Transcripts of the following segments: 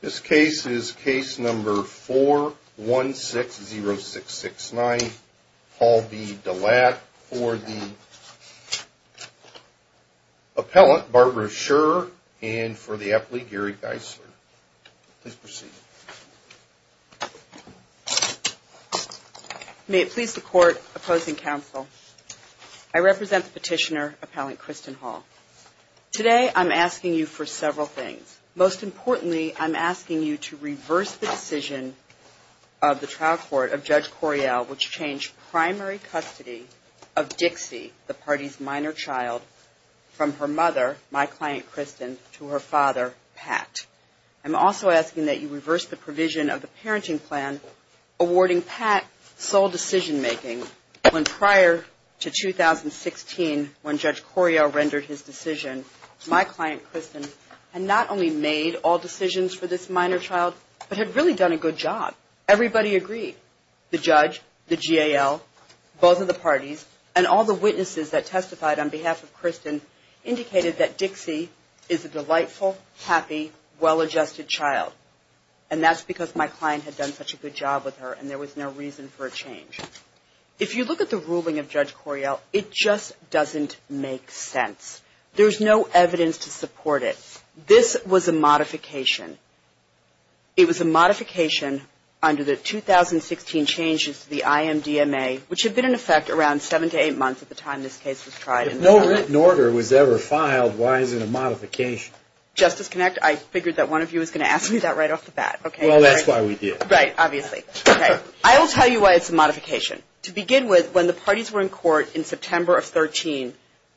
This case is case number 4160669, Paul v. Delatte, for the appellant, Barbara Scherer, and for the appellee, Gary Geisler. Please proceed. May it please the Court, opposing counsel, I represent the petitioner, appellant Kristen Hall. Today, I'm asking you for several things. Most importantly, I'm asking you to reverse the decision of the trial court of Judge Coryell, which changed primary custody of Dixie, the party's minor child, from her mother, my client, Kristen, to her father, Pat. I'm also asking that you reverse the provision of the parenting plan awarding Pat sole decision-making, when prior to 2016, when Judge Coryell rendered his decision, my client, Kristen, had not only made all decisions for this minor child, but had really done a good job. Everybody agreed. The judge, the GAL, both of the parties, and all the witnesses that testified on behalf of Kristen indicated that Dixie is a delightful, happy, well-adjusted child. And that's because my client had done such a good job with her, and there was no reason for a change. If you look at the ruling of Judge Coryell, it just doesn't make sense. There's no evidence to support it. This was a modification. It was a modification under the 2016 changes to the IMDMA, which had been in effect around seven to eight months at the time this case was tried. If no written order was ever filed, why is it a modification? Justice Knecht, I figured that one of you was going to ask me that right off the bat. Well, that's why we did. Right, obviously. Okay. I will tell you why it's a modification. To begin with, when the parties were in court in September of 2013,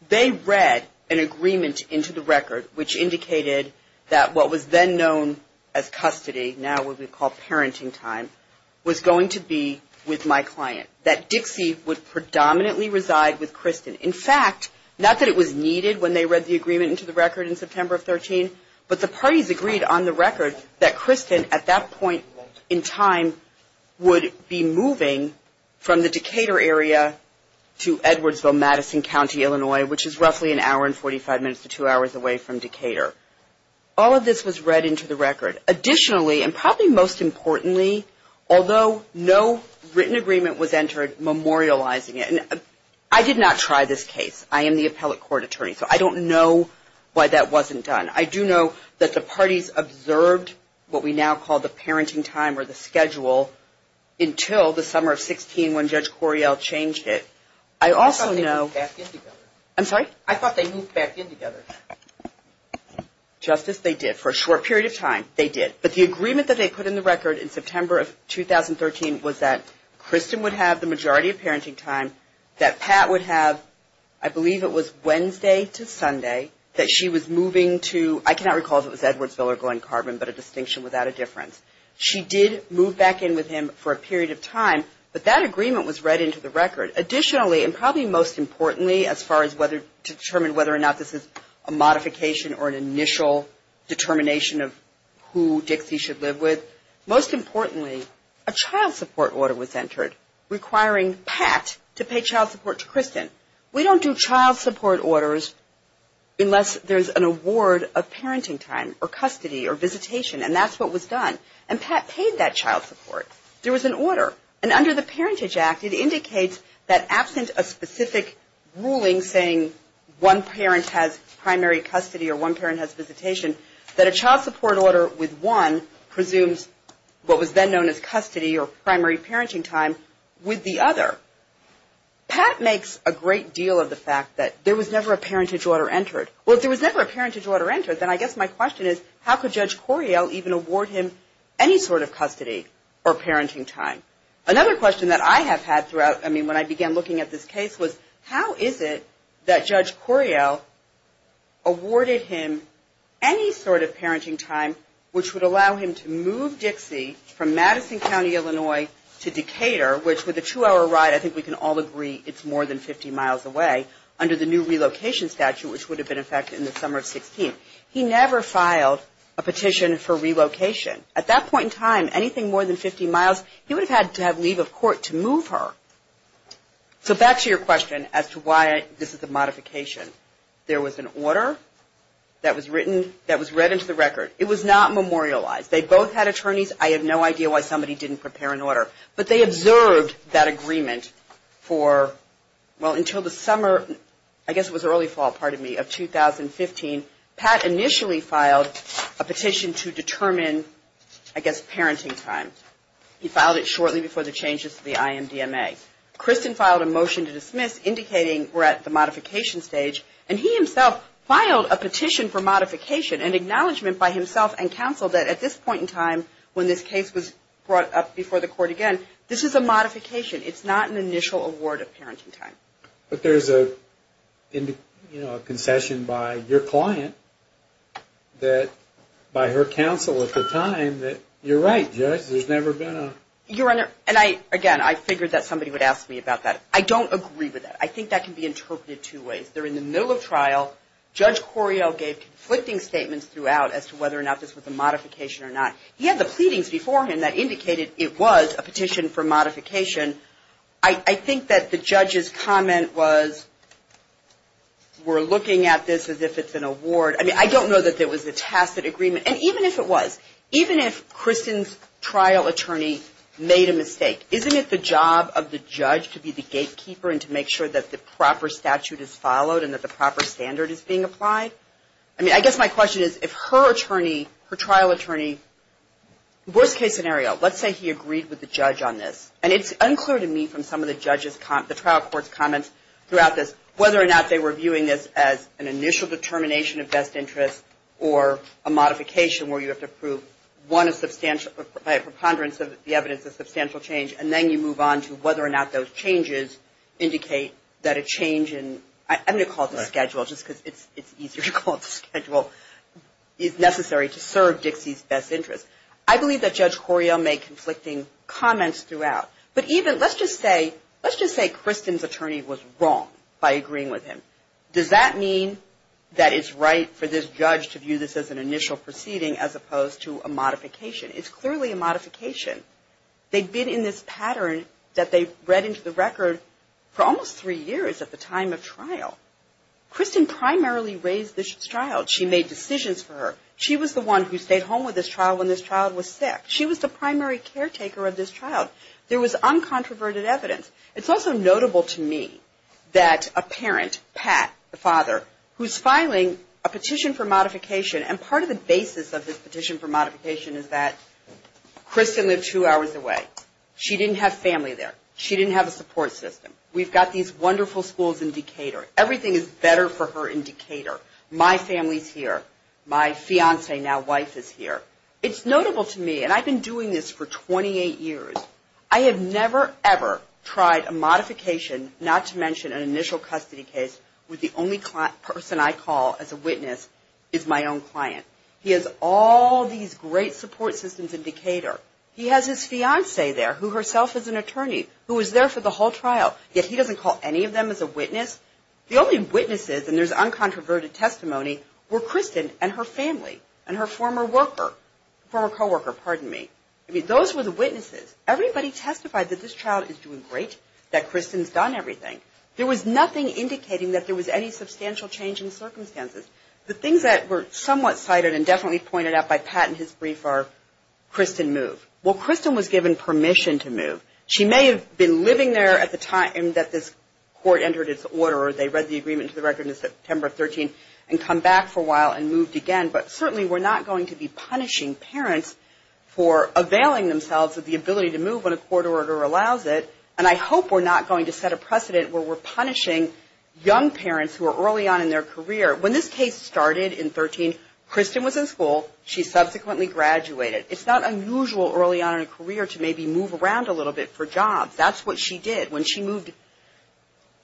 they read an agreement into the record which indicated that what was then known as custody, now what we call parenting time, was going to be with my client. That Dixie would predominantly reside with Kristen. In fact, not that it was needed when they read the agreement into the record in September of 2013, but the parties agreed on the record that Kristen, at that point in time, would be moving from the Decatur area to Edwardsville, Madison County, Illinois, which is roughly an hour and 45 minutes to two hours away from Decatur. All of this was read into the record. Additionally, and probably most importantly, although no written agreement was entered memorializing it, and I did not try this case. I am the appellate court attorney, so I don't know why that wasn't done. I do know that the parties observed what we now call the parenting time or the schedule until the summer of 16 when Judge Coryell changed it. I also know. I thought they moved back in together. I'm sorry? I thought they moved back in together. Justice, they did. For a short period of time, they did. But the agreement that they put in the record in September of 2013 was that Kristen would have the majority of parenting time, that Pat would have, I believe it was Wednesday to Sunday, that she was moving to, I cannot recall if it was Edwardsville or Glen Carbon, but a distinction without a difference. She did move back in with him for a period of time, but that agreement was read into the record. Additionally, and probably most importantly, as far as whether to determine whether or not this is a modification or an initial determination of who Dixie should live with, most importantly, a child support order was entered requiring Pat to pay child support to Kristen. We don't do child support orders unless there's an award of parenting time or custody or visitation, and that's what was done. And Pat paid that child support. There was an order, and under the Parentage Act, it indicates that absent a specific ruling saying one parent has primary custody or one parent has visitation, that a child support order with one presumes what was then known as custody or primary parenting time with the other. Pat makes a great deal of the fact that there was never a parentage order entered. Well, if there was never a parentage order entered, then I guess my question is, how could Judge Coriel even award him any sort of custody or parenting time? Another question that I have had throughout, I mean, when I began looking at this case was, how is it that Judge Coriel awarded him any sort of parenting time which would allow him to move Dixie from Madison County, Illinois, to Decatur, which with a two-hour ride, I think we can all agree it's more than 50 miles away, under the new relocation statute, which would have been in effect in the summer of 16. He never filed a petition for relocation. At that point in time, anything more than 50 miles, he would have had to have leave of court to move her. So back to your question as to why this is a modification. There was an order that was written, that was read into the record. It was not memorialized. They both had attorneys. I have no idea why somebody didn't prepare an order. But they observed that agreement for, well, until the summer, I guess it was early fall, pardon me, of 2015. Pat initially filed a petition to determine, I guess, parenting time. He filed it shortly before the changes to the IMDMA. Kristen filed a motion to dismiss indicating we're at the modification stage. And he himself filed a petition for modification, an acknowledgement by himself and counsel that at this point in time, when this case was brought up before the court again, this is a modification. It's not an initial award of parenting time. But there's a concession by your client that, by her counsel at the time, that you're right, Judge, there's never been a... Your Honor, and I, again, I figured that somebody would ask me about that. I don't agree with that. I think that can be interpreted two ways. They're in the middle of trial. Judge Correale gave conflicting statements throughout as to whether or not this was a modification or not. He had the pleadings before him that indicated it was a petition for modification. I think that the judge's comment was, we're looking at this as if it's an award. I mean, I don't know that there was a tacit agreement. And even if it was, even if Kristen's trial attorney made a mistake, isn't it the job of the judge to be the gatekeeper and to make sure that the proper statute is followed and that the proper standard is being applied? I mean, I guess my question is, if her attorney, her trial attorney, worst case scenario, let's say he agreed with the judge on this. And it's unclear to me from some of the judges' comments, the trial court's comments throughout this, whether or not they were viewing this as an initial determination of best interest or a modification where you have to prove, one, a substantial, by a preponderance of the evidence, a substantial change, and then you move on to whether or not those changes indicate that a change in, I'm going to call it the schedule just because it's easier to call it the schedule, is necessary to serve Dixie's best interest. I believe that Judge Corio made conflicting comments throughout. But even, let's just say, let's just say Kristen's attorney was wrong by agreeing with him. Does that mean that it's right for this judge to view this as an initial proceeding as opposed to a modification? It's clearly a modification. They've been in this pattern that they've read into the record for almost three years at the time of trial. Kristen primarily raised this trial. She made decisions for her. She was the one who stayed home with this trial when this trial was set. She was the primary caretaker of this trial. There was uncontroverted evidence. It's also notable to me that a parent, Pat, the father, who's filing a petition for modification, and part of the basis of this petition for modification is that Kristen lived two hours away. She didn't have family there. She didn't have a support system. We've got these wonderful schools in Decatur. Everything is better for her in Decatur. My family's here. My fiancé, now wife, is here. It's notable to me, and I've been doing this for 28 years, I have never, ever tried a modification, not to mention an initial custody case, with the only person I call as a witness is my own client. He has all these great support systems in Decatur. He has his fiancé there, who herself is an attorney, who was there for the whole trial, yet he doesn't call any of them as a witness. The only witnesses, and there's uncontroverted testimony, were Kristen and her family and her former worker, former co-worker, pardon me. I mean, those were the witnesses. Everybody testified that this child is doing great, that Kristen's done everything. There was nothing indicating that there was any substantial change in circumstances. The things that were somewhat cited and definitely pointed out by Pat in his brief are Kristen moved. Well, Kristen was given permission to move. She may have been living there at the time that this court entered its order, or they read the agreement to the record in September of 13 and come back for a while and moved again, but certainly we're not going to be punishing parents for availing themselves of the ability to move when a court order allows it, and I hope we're not going to set a precedent where we're punishing young parents who are early on in their career. When this case started in 13, Kristen was in school. She subsequently graduated. It's not unusual early on in a career to maybe move around a little bit for jobs. That's what she did. When she moved,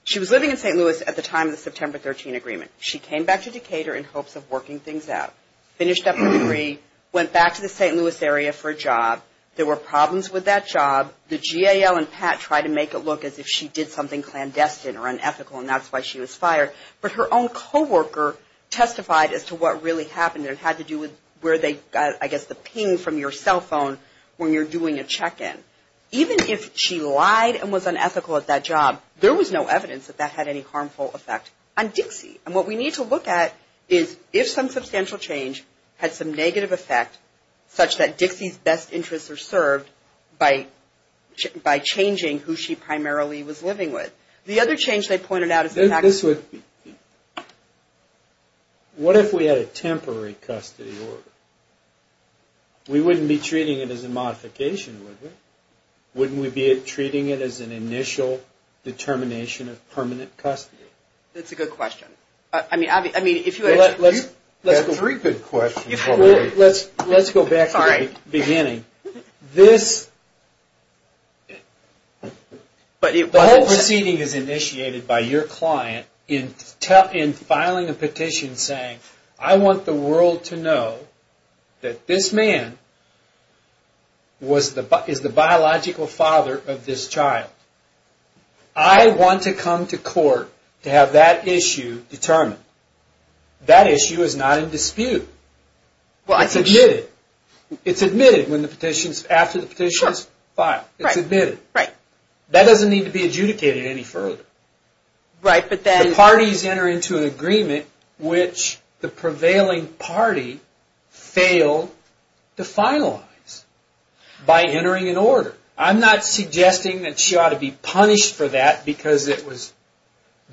she was living in St. Louis at the time of the September 13 agreement. She came back to Decatur in hopes of working things out, finished up her degree, went back to the St. Louis area for a job. There were problems with that job. The GAL and Pat tried to make it look as if she did something clandestine or unethical, and that's why she was fired, but her own co-worker testified as to what really happened. It had to do with where they got, I guess, the ping from your cell phone when you're doing a check-in. Even if she lied and was unethical at that job, there was no evidence that that had any harmful effect on Dixie, and what we need to look at is if some substantial change had some negative effect, such that Dixie's best interests are served by changing who she primarily was living with. The other change they pointed out is the fact that... What if we had a temporary custody order? We wouldn't be treating it as a modification, would we? Wouldn't we be treating it as an initial determination of permanent custody? That's a good question. You've got three good questions already. Let's go back to the beginning. The whole proceeding is initiated by your client in filing a petition saying, I want the world to know that this man is the biological father of this child. I want to come to court to have that issue determined. That issue is not in dispute. It's admitted after the petition is filed. That doesn't need to be adjudicated any further. The parties enter into an agreement which the prevailing party failed to finalize by entering an order. I'm not suggesting that she ought to be punished for that because it was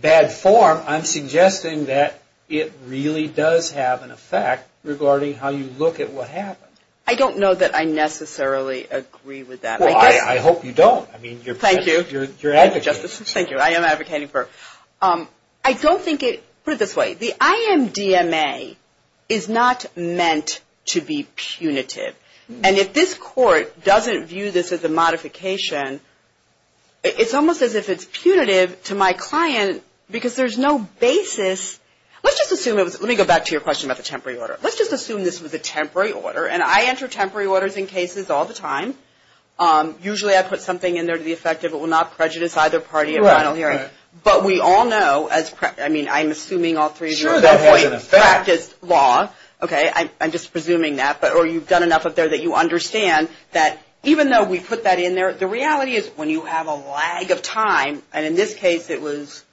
bad form. I'm suggesting that it really does have an effect regarding how you look at what happened. I don't know that I necessarily agree with that. Well, I hope you don't. Thank you. You're advocating. Thank you. I am advocating for... I don't think it... Put it this way. The IMDMA is not meant to be punitive. And if this court doesn't view this as a modification, it's almost as if it's punitive to my client because there's no basis. Let's just assume it was... Let me go back to your question about the temporary order. Let's just assume this was a temporary order. And I enter temporary orders in cases all the time. Usually, I put something in there to the effect it will not prejudice either party at final hearing. But we all know as... I mean, I'm assuming all three of you at one point practiced law. I'm just presuming that. Or you've done enough up there that you understand that even though we put that in there, the reality is when you have a lag of time, and in this case, it was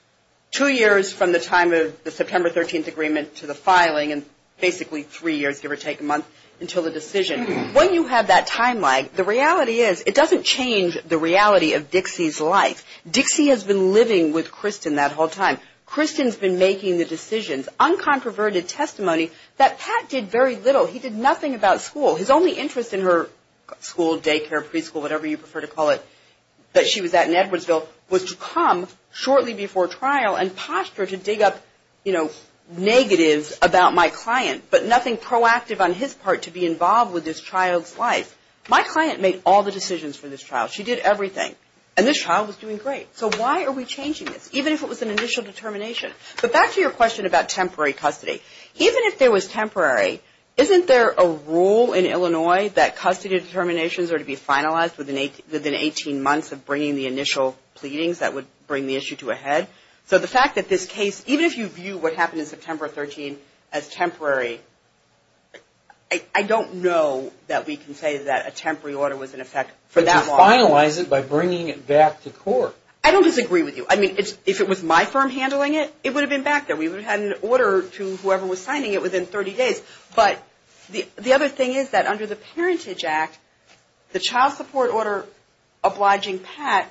two years from the time of the September 13th agreement to the filing, and basically three years, give or take, a month until the decision. When you have that time lag, the reality is it doesn't change the reality of Dixie's life. Dixie has been living with Kristen that whole time. Kristen's been making the decisions. Uncontroverted testimony that Pat did very little. He did nothing about school. His only interest in her school, daycare, preschool, whatever you prefer to call it, that she was at in Edwardsville, was to come shortly before trial and posture to dig up negatives about my client, but nothing proactive on his part to be involved with this child's life. My client made all the decisions for this child. She did everything. And this child was doing great. So why are we changing this, even if it was an initial determination? But back to your question about temporary custody. Even if there was temporary, isn't there a rule in Illinois that custody determinations are to be finalized within 18 months of bringing the initial pleadings that would bring the issue to a head? So the fact that this case, even if you view what happened in September 13th as temporary, I don't know that we can say that a temporary order was in effect for that long. But to finalize it by bringing it back to court. I don't disagree with you. I mean, if it was my firm handling it, it would have been back there. We would have had an order to whoever was signing it within 30 days. But the other thing is that under the Parentage Act, the child support order obliging Pat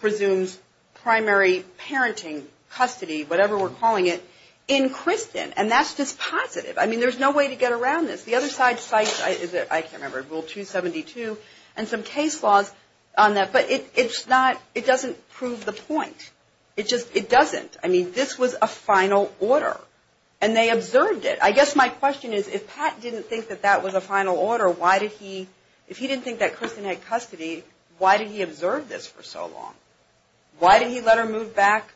presumes primary parenting, custody, whatever we're calling it, in Kristen. And that's just positive. I mean, there's no way to get around this. The other side cites, I can't remember, Rule 272 and some case laws on that. But it's not, it doesn't prove the point. It just, it doesn't. I mean, this was a final order. And they observed it. I guess my question is, if Pat didn't think that that was a final order, why did he, if he didn't think that Kristen had custody, why did he observe this for so long? Why did he let her move back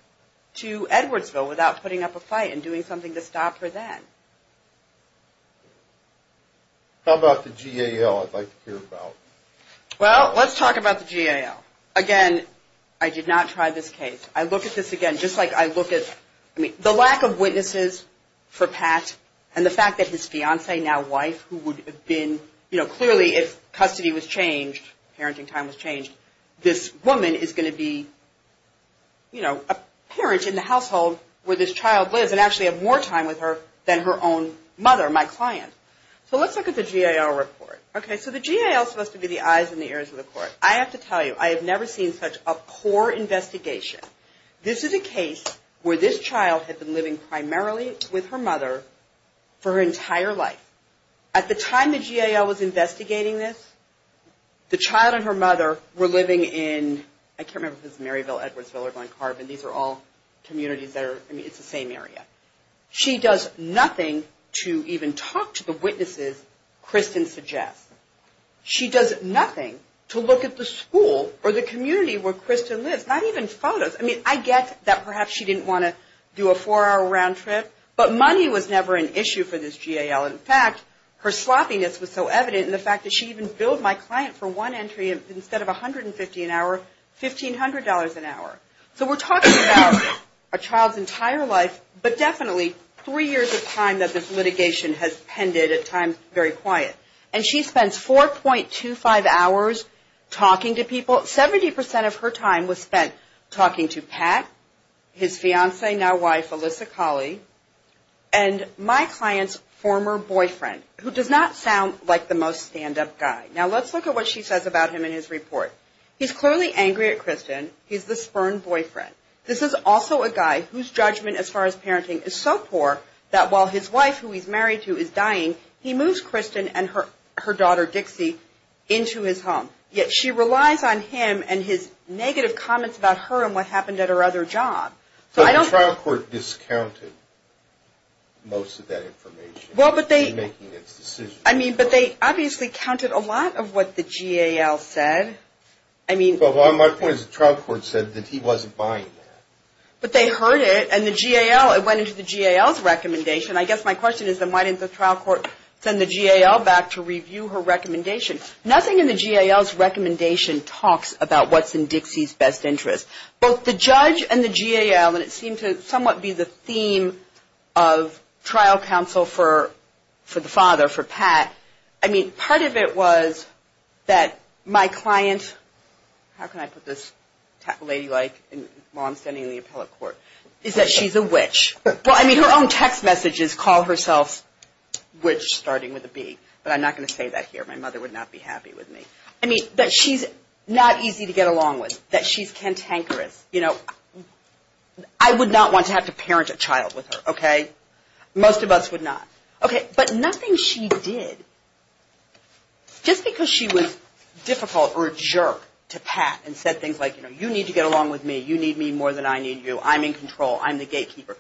to Edwardsville without putting up a fight and doing something to stop her then? How about the GAL I'd like to hear about? Well, let's talk about the GAL. Again, I did not try this case. I look at this again just like I look at, I mean, the lack of witnesses for Pat and the fact that his fiancee, now wife, who would have been, you know, clearly if custody was changed, parenting time was changed, this woman is going to be, you know, a parent in the household where this child lives and actually have more time with her than her own mother, my client. So let's look at the GAL report. Okay, so the GAL is supposed to be the eyes and the ears of the court. I have to tell you, I have never seen such a poor investigation. This is a case where this child had been living primarily with her mother for her entire life. At the time the GAL was investigating this, the child and her mother were living in, I can't remember if it was Maryville, Edwardsville, or Glen Carbon. These are all communities that are, I mean, it's the same area. She does nothing to even talk to the witnesses, Kristen suggests. She does nothing to look at the school or the community where Kristen lives, not even photos. I mean, I get that perhaps she didn't want to do a four-hour round trip, but money was never an issue for this GAL. In fact, her sloppiness was so evident in the fact that she even billed my client for one entry instead of $150 an hour, $1,500 an hour. So we're talking about a child's entire life, but definitely three years of time that this litigation has pended at times very quiet. And she spends 4.25 hours talking to people. Seventy percent of her time was spent talking to Pat, his fiancee, now wife, Alyssa Colley, and my client's former boyfriend, who does not sound like the most stand-up guy. Now let's look at what she says about him in his report. He's clearly angry at Kristen. He's the spurned boyfriend. This is also a guy whose judgment as far as parenting is so poor that while his wife, who he's married to, is dying, he moves Kristen and her daughter, Dixie, into his home. Yet she relies on him and his negative comments about her and what happened at her other job. So I don't think... But the trial court discounted most of that information. Well, but they... In making its decision. I mean, but they obviously counted a lot of what the GAL said. I mean... Well, my point is the trial court said that he wasn't buying that. But they heard it, and the GAL, it went into the GAL's recommendation. I guess my question is, then, why didn't the trial court send the GAL back to review her recommendation? Nothing in the GAL's recommendation talks about what's in Dixie's best interest. Both the judge and the GAL, and it seemed to somewhat be the theme of trial counsel for the father, for Pat. I mean, part of it was that my client... How can I put this lady-like while I'm standing in the appellate court? Is that she's a witch. Well, I mean, her own text message is call herself witch, starting with a B. But I'm not going to say that here. My mother would not be happy with me. I mean, that she's not easy to get along with, that she's cantankerous. You know, I would not want to have to parent a child with her, okay? Most of us would not. Okay, but nothing she did... Just because she was difficult or a jerk to Pat and said things like, you know, you need to get along with me. You need me more than I need you. I'm in control. I'm the gatekeeper.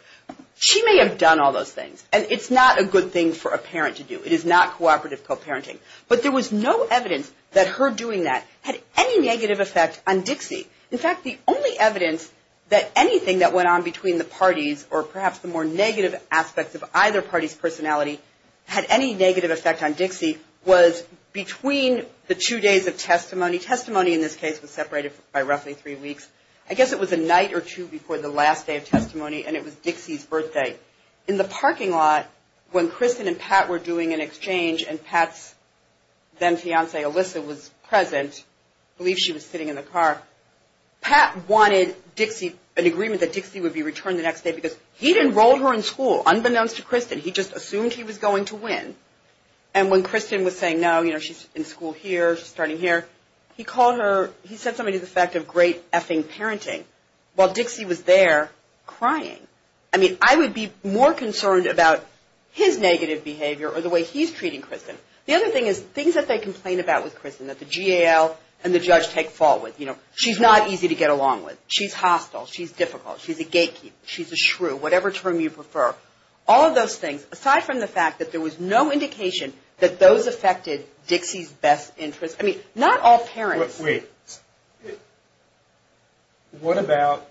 She may have done all those things, and it's not a good thing for a parent to do. It is not cooperative co-parenting. But there was no evidence that her doing that had any negative effect on Dixie. In fact, the only evidence that anything that went on between the parties or perhaps the more negative aspects of either party's personality had any negative effect on Dixie was between the two days of testimony. Testimony in this case was separated by roughly three weeks. I guess it was a night or two before the last day of testimony, and it was Dixie's birthday. In the parking lot, when Kristen and Pat were doing an exchange and Pat's then-fiancee, Alyssa, was present, I believe she was sitting in the car, Pat wanted an agreement that Dixie would be returned the next day because he'd enrolled her in school, unbeknownst to Kristen. He just assumed he was going to win. And when Kristen was saying, no, you know, she's in school here, she's starting here, he called her. He said something to the effect of great effing parenting, while Dixie was there crying. I mean, I would be more concerned about his negative behavior or the way he's treating Kristen. The other thing is things that they complain about with Kristen that the GAL and the judge take fault with. You know, she's not easy to get along with. She's hostile. She's difficult. She's a gatekeeper. She's a shrew, whatever term you prefer. All of those things, aside from the fact that there was no indication that those affected Dixie's best interest. I mean, not all parents. Wait. What about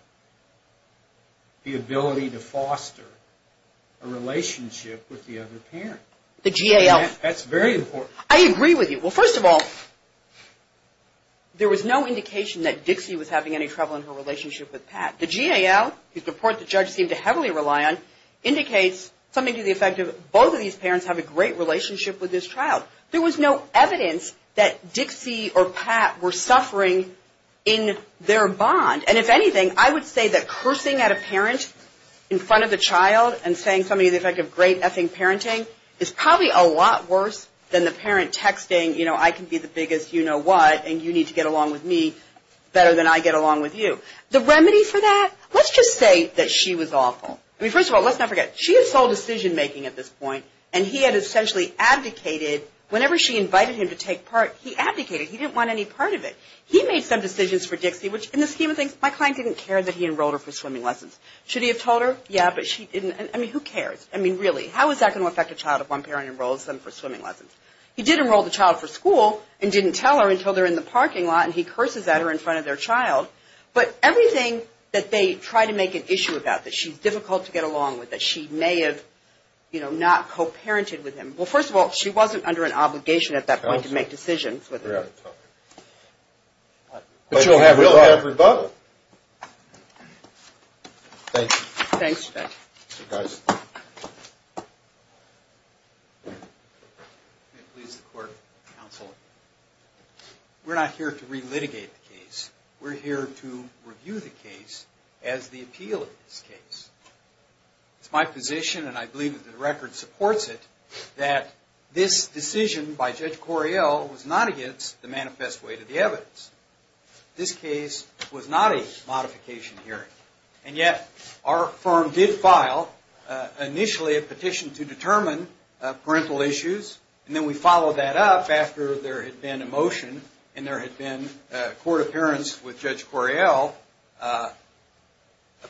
the ability to foster a relationship with the other parent? The GAL. That's very important. I agree with you. Well, first of all, there was no indication that Dixie was having any trouble in her relationship with Pat. The GAL, whose report the judge seemed to heavily rely on, indicates something to the effect of both of these parents have a great relationship with this child. There was no evidence that Dixie or Pat were suffering in their bond. And if anything, I would say that cursing at a parent in front of the child and saying something to the effect of great effing parenting is probably a lot worse than the parent texting, you know, I can be the biggest you-know-what, and you need to get along with me better than I get along with you. The remedy for that, let's just say that she was awful. I mean, first of all, let's not forget. She is sole decision-making at this point, and he had essentially abdicated whenever she invited him to take part. He abdicated. He didn't want any part of it. He made some decisions for Dixie, which in the scheme of things, my client didn't care that he enrolled her for swimming lessons. Should he have told her? Yeah, but she didn't. I mean, who cares? I mean, really, how is that going to affect a child if one parent enrolls them for swimming lessons? He did enroll the child for school and didn't tell her until they're in the parking lot, and he curses at her in front of their child. But everything that they try to make an issue about, that she's difficult to get along with, that she may have, you know, not co-parented with him. Well, first of all, she wasn't under an obligation at that point to make decisions with him. Right. But she'll have rebuttal. She will have rebuttal. Thank you. Thanks, Judge. You're welcome. We're here to review the case as the appeal of this case. It's my position, and I believe that the record supports it, that this decision by Judge Correale was not against the manifest way to the evidence. This case was not a modification hearing. And yet, our firm did file, initially, a petition to determine parental issues, and then we followed that up after there had been a court appearance with Judge Correale, a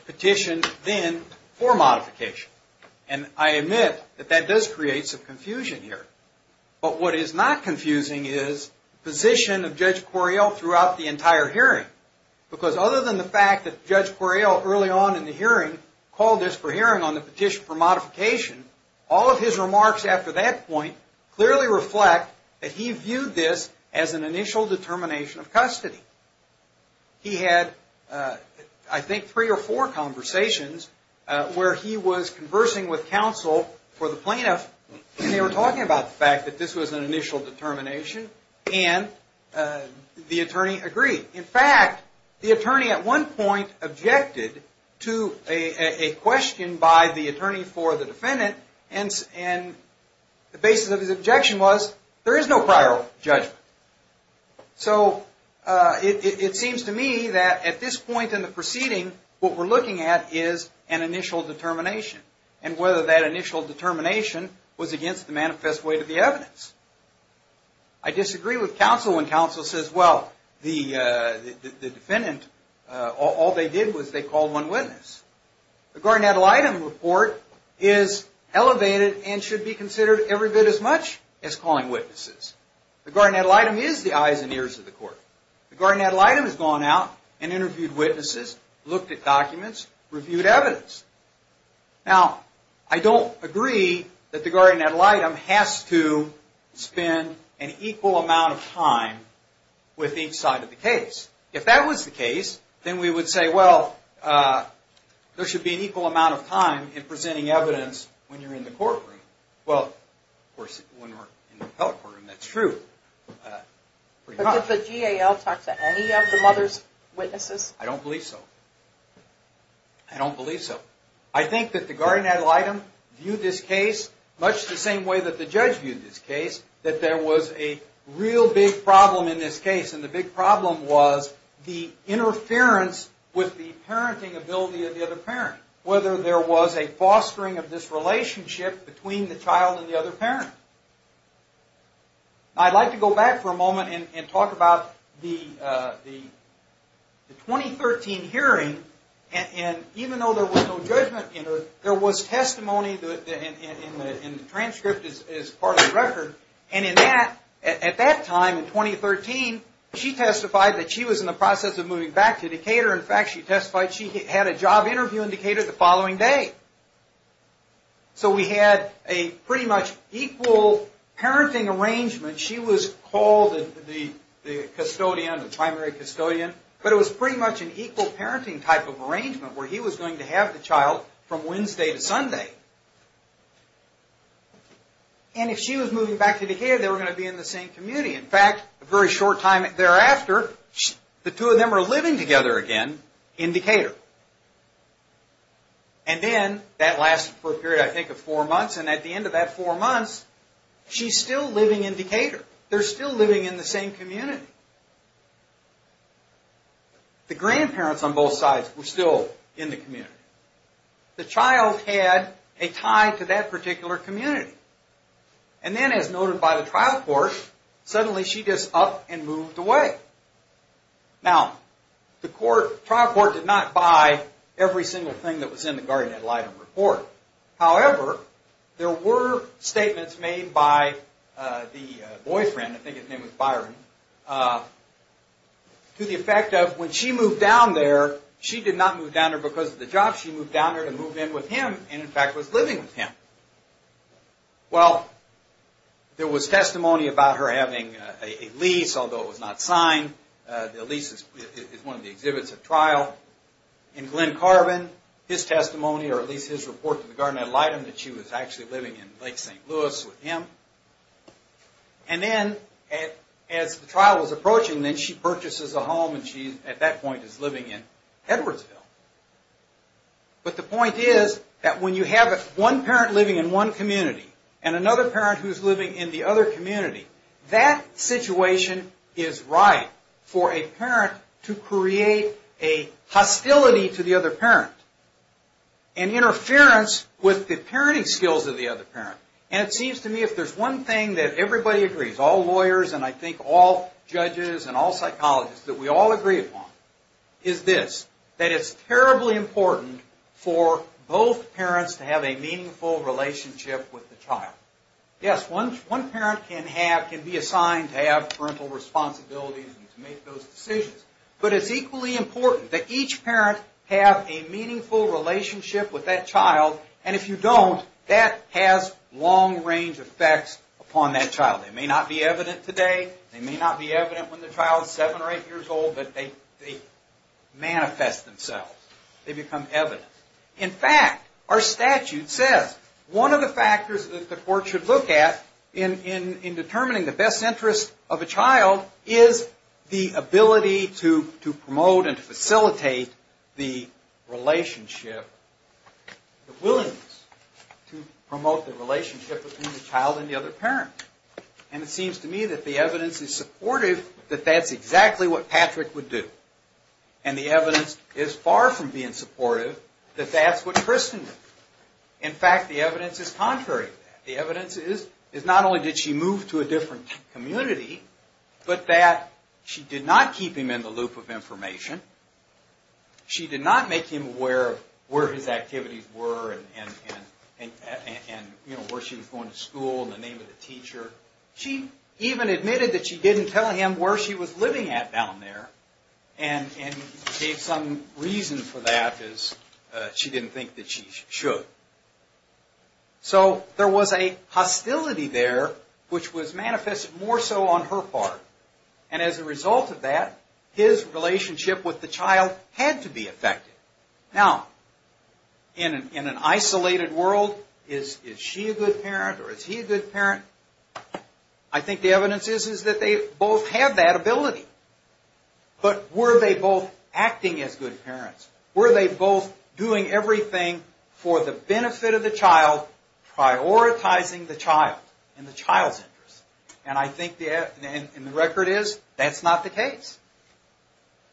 petition then for modification. And I admit that that does create some confusion here. But what is not confusing is the position of Judge Correale throughout the entire hearing. Because other than the fact that Judge Correale, early on in the hearing, called this for hearing on the petition for He had, I think, three or four conversations where he was conversing with counsel for the plaintiff, and they were talking about the fact that this was an initial determination, and the attorney agreed. In fact, the attorney at one point objected to a question by the attorney for the defendant, and the basis of his objection was, there is no prior judgment. So it seems to me that at this point in the proceeding, what we're looking at is an initial determination, and whether that initial determination was against the manifest way to the evidence. I disagree with counsel when counsel says, well, the defendant, all they did was they called one witness. The guardian ad litem report is elevated and should be considered every bit as much as calling witnesses. The guardian ad litem is the eyes and ears of the court. The guardian ad litem has gone out and interviewed witnesses, looked at documents, reviewed evidence. Now, I don't agree that the guardian ad litem has to spend an equal amount of time with each side of the case. If that was the case, then we would say, well, there should be an equal amount of time in presenting evidence when you're in the courtroom. Well, of course, when we're in the appellate courtroom, that's true. But did the GAL talk to any of the mother's witnesses? I don't believe so. I don't believe so. I think that the guardian ad litem viewed this case much the same way that the judge viewed this case, that there was a real big problem in this was the interference with the parenting ability of the other parent, whether there was a fostering of this relationship between the child and the other parent. I'd like to go back for a moment and talk about the 2013 hearing. And even though there was no judgment in it, there was testimony in the transcript as part of the record. And at that time, in 2013, she testified that she was in the process of moving back to Decatur. In fact, she testified she had a job interview in Decatur the following day. So we had a pretty much equal parenting arrangement. She was called the custodian, the primary custodian. But it was pretty much an equal parenting type of arrangement, where he was going to have the child from Wednesday to Sunday. And if she was moving back to Decatur, they were going to be in the same community. In fact, a very short time thereafter, the two of them were living together again in Decatur. And then, that lasted for a period, I think, of four months. And at the end of that four months, she's still living in Decatur. They're still living in the same community. The grandparents on both sides were still in the community. The child had a tie to that particular community. And then, as noted by the trial court, suddenly she just up and moved away. Now, the trial court did not buy every single thing that was in the guardian ad litem report. However, there were statements made by the boyfriend, I think his name was Byron, to the effect of when she moved down there, she did not move down there because of the job. She moved down there to move in with him and, in fact, was living with him. Well, there was testimony about her having a lease, although it was not signed. The lease is one of the exhibits at trial. In Glenn Carvin, his testimony, or at least his report to the guardian ad litem, that she was actually living in Lake St. Louis with him. And then, as the trial was approaching, then she purchases a home, and she, at that point, is living in Edwardsville. But the point is that when you have one parent living in one community and another parent who's living in the other community, that situation is right for a parent to create a hostility to the other parent, an interference with the parenting skills of the other parent. And it seems to me if there's one thing that everybody agrees, all lawyers and I think all judges and all psychologists, that we all agree upon, is this, that it's terribly important for both parents to have a meaningful relationship with the child. Yes, one parent can be assigned to have parental responsibilities and to make those decisions, but it's equally important that each parent have a meaningful relationship with that child, and if you don't, that has long-range effects upon that child. They may not be evident today, they may not be evident when the child is seven or eight years old, but they manifest themselves. They become evident. In fact, our statute says one of the factors that the court should look at in determining the best interest of a child is the ability to promote and facilitate the relationship. The willingness to promote the relationship between the child and the other parent. And it seems to me that the evidence is supportive that that's exactly what Patrick would do. And the evidence is far from being supportive that that's what Kristen would do. In fact, the evidence is contrary to that. The evidence is not only did she move to a different community, but that she did not keep him in the loop of information, she did not make him aware of where his activities were, and where she was going to school, and the name of the teacher. She even admitted that she didn't tell him where she was living at down there, and gave some reason for that as she didn't think that she should. So there was a hostility there which was manifested more so on her part, and as a result of that, his relationship with the child had to be affected. Now, in an isolated world, is she a good parent or is he a good parent? I think the evidence is that they both have that ability. But were they both acting as good parents? Were they both doing everything for the benefit of the child, prioritizing the child and the child's interest? And I think the record is that's not the case.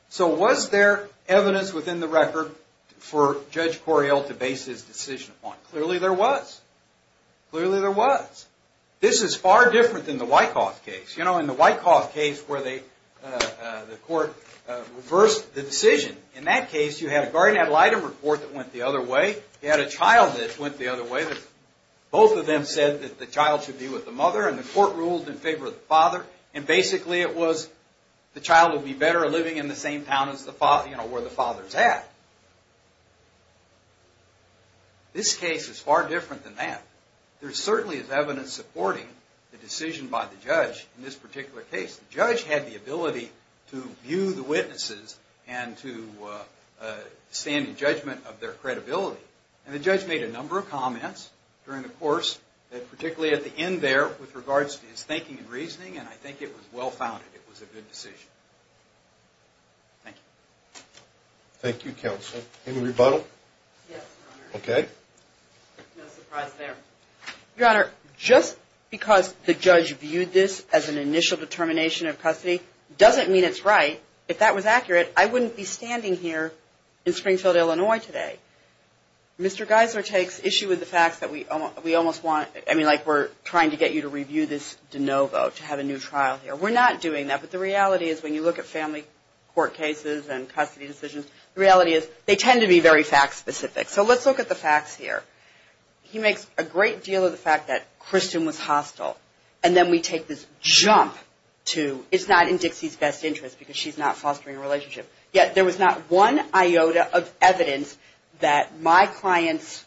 So was there evidence within the record for Judge Correale to base his decision upon? Clearly there was. Clearly there was. This is far different than the Wyckoff case. In the Wyckoff case where the court reversed the decision, in that case you had a guardian ad litem report that went the other way, you had a child that went the other way, both of them said that the child should be with the mother, and the court ruled in favor of the father, and basically it was the child would be better living in the same town where the father's at. This case is far different than that. There certainly is evidence supporting the decision by the judge in this particular case. The judge had the ability to view the witnesses and to stand in judgment of their credibility. And the judge made a number of comments during the course, particularly at the end there with regards to his thinking and reasoning, and I think it was well-founded. It was a good decision. Thank you. Thank you, Counsel. Any rebuttal? Yes, Your Honor. Okay. No surprise there. Your Honor, just because the judge viewed this as an initial determination of custody doesn't mean it's right. If that was accurate, I wouldn't be standing here in Springfield, Illinois today. Mr. Geiser takes issue with the facts that we almost want. I mean, like we're trying to get you to review this de novo, to have a new trial here. We're not doing that, but the reality is when you look at family court cases and custody decisions, the reality is they tend to be very fact-specific. So let's look at the facts here. He makes a great deal of the fact that Kristen was hostile, and then we take this jump to it's not in Dixie's best interest because she's not fostering a relationship. Yet there was not one iota of evidence that my client's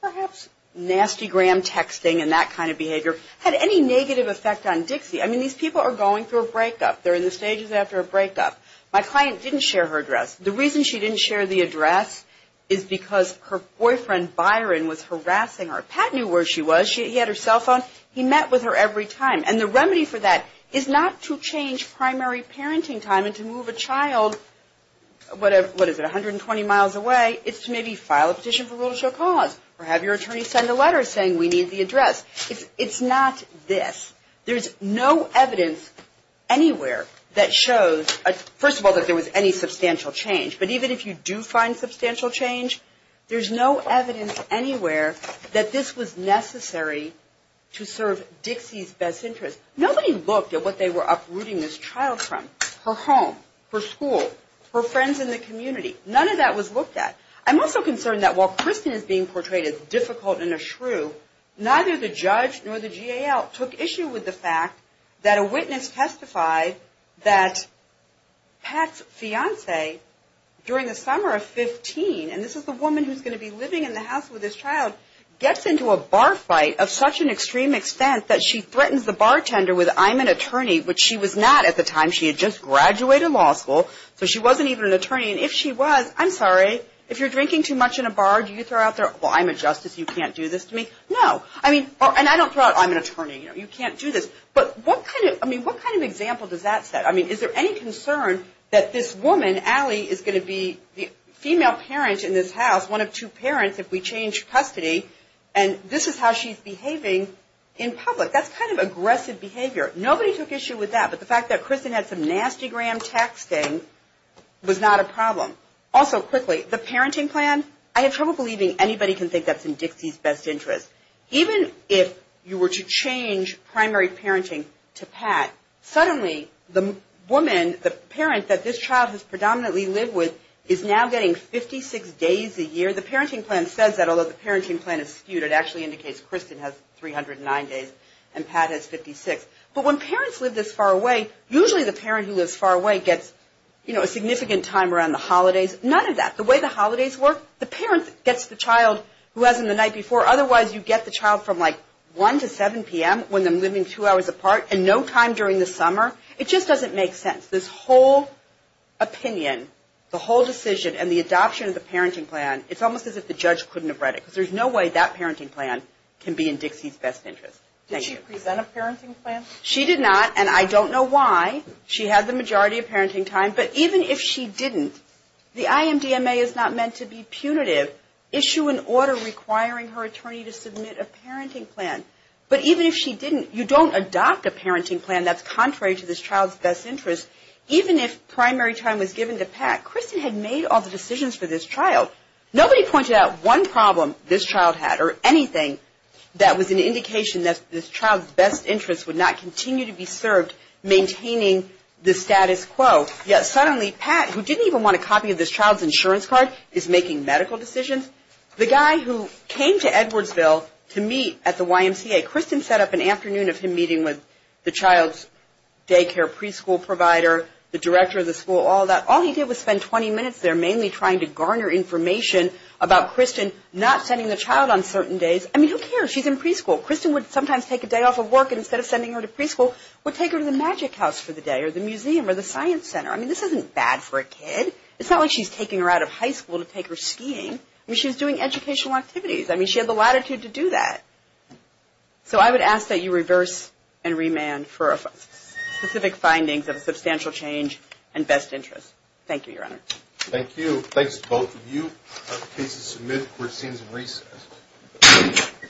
perhaps nasty gram texting and that kind of behavior had any negative effect on Dixie. I mean, these people are going through a breakup. They're in the stages after a breakup. My client didn't share her address. The reason she didn't share the address is because her boyfriend Byron was harassing her. Pat knew where she was. He had her cell phone. He met with her every time. And the remedy for that is not to change primary parenting time and to move a child, what is it, 120 miles away. It's to maybe file a petition for rule of show cause or have your attorney send a letter saying we need the address. It's not this. There's no evidence anywhere that shows, first of all, that there was any substantial change. But even if you do find substantial change, there's no evidence anywhere that this was necessary to serve Dixie's best interest. Nobody looked at what they were uprooting this child from, her home, her school, her friends in the community. None of that was looked at. I'm also concerned that while Kristen is being portrayed as difficult and a shrew, neither the judge nor the GAL took issue with the fact that a witness testified that Pat's fiancee during the summer of 15, and this is the woman who's going to be living in the house with this child, gets into a bar fight of such an extreme extent that she threatens the bartender with, I'm an attorney, which she was not at the time. She had just graduated law school, so she wasn't even an attorney. And if she was, I'm sorry, if you're drinking too much in a bar, do you throw out there, well, I'm a justice, you can't do this to me? No. And I don't throw out, I'm an attorney, you can't do this. But what kind of example does that set? I mean, is there any concern that this woman, Allie, is going to be the female parent in this house, one of two parents if we change custody, and this is how she's behaving in public? That's kind of aggressive behavior. Nobody took issue with that, but the fact that Kristen had some nasty gram texting was not a problem. Also, quickly, the parenting plan, I have trouble believing anybody can think that's in Dixie's best interest. Even if you were to change primary parenting to Pat, suddenly the woman, the parent, that this child has predominantly lived with is now getting 56 days a year. The parenting plan says that, although the parenting plan is skewed. It actually indicates Kristen has 309 days and Pat has 56. But when parents live this far away, usually the parent who lives far away gets, you know, a significant time around the holidays. None of that. The way the holidays work, the parent gets the child who hasn't the night before. Otherwise, you get the child from like 1 to 7 p.m. when they're living two hours apart and no time during the summer. It just doesn't make sense. This whole opinion, the whole decision, and the adoption of the parenting plan, it's almost as if the judge couldn't have read it because there's no way that parenting plan can be in Dixie's best interest. Thank you. Did she present a parenting plan? She did not, and I don't know why. She had the majority of parenting time, but even if she didn't, the IMDMA is not meant to be punitive. Issue an order requiring her attorney to submit a parenting plan. But even if she didn't, you don't adopt a parenting plan that's contrary to this child's best interest. Even if primary time was given to Pat, Kristen had made all the decisions for this child. Nobody pointed out one problem this child had or anything that was an indication that this child's best interest would not continue to be served maintaining the status quo. Yes, suddenly Pat, who didn't even want a copy of this child's insurance card, is making medical decisions. The guy who came to Edwardsville to meet at the YMCA, Kristen set up an afternoon of him meeting with the child's daycare preschool provider, the director of the school, all that. All he did was spend 20 minutes there mainly trying to garner information about Kristen not sending the child on certain days. I mean, who cares? She's in preschool. Kristen would sometimes take a day off of work, and instead of sending her to preschool, would take her to the magic house for the day or the museum or the science center. I mean, this isn't bad for a kid. It's not like she's taking her out of high school to take her skiing. I mean, she was doing educational activities. I mean, she had the latitude to do that. So I would ask that you reverse and remand for specific findings of a substantial change in best interest. Thank you, Your Honor. Thank you. Thanks to both of you. Please submit. Court is in recess.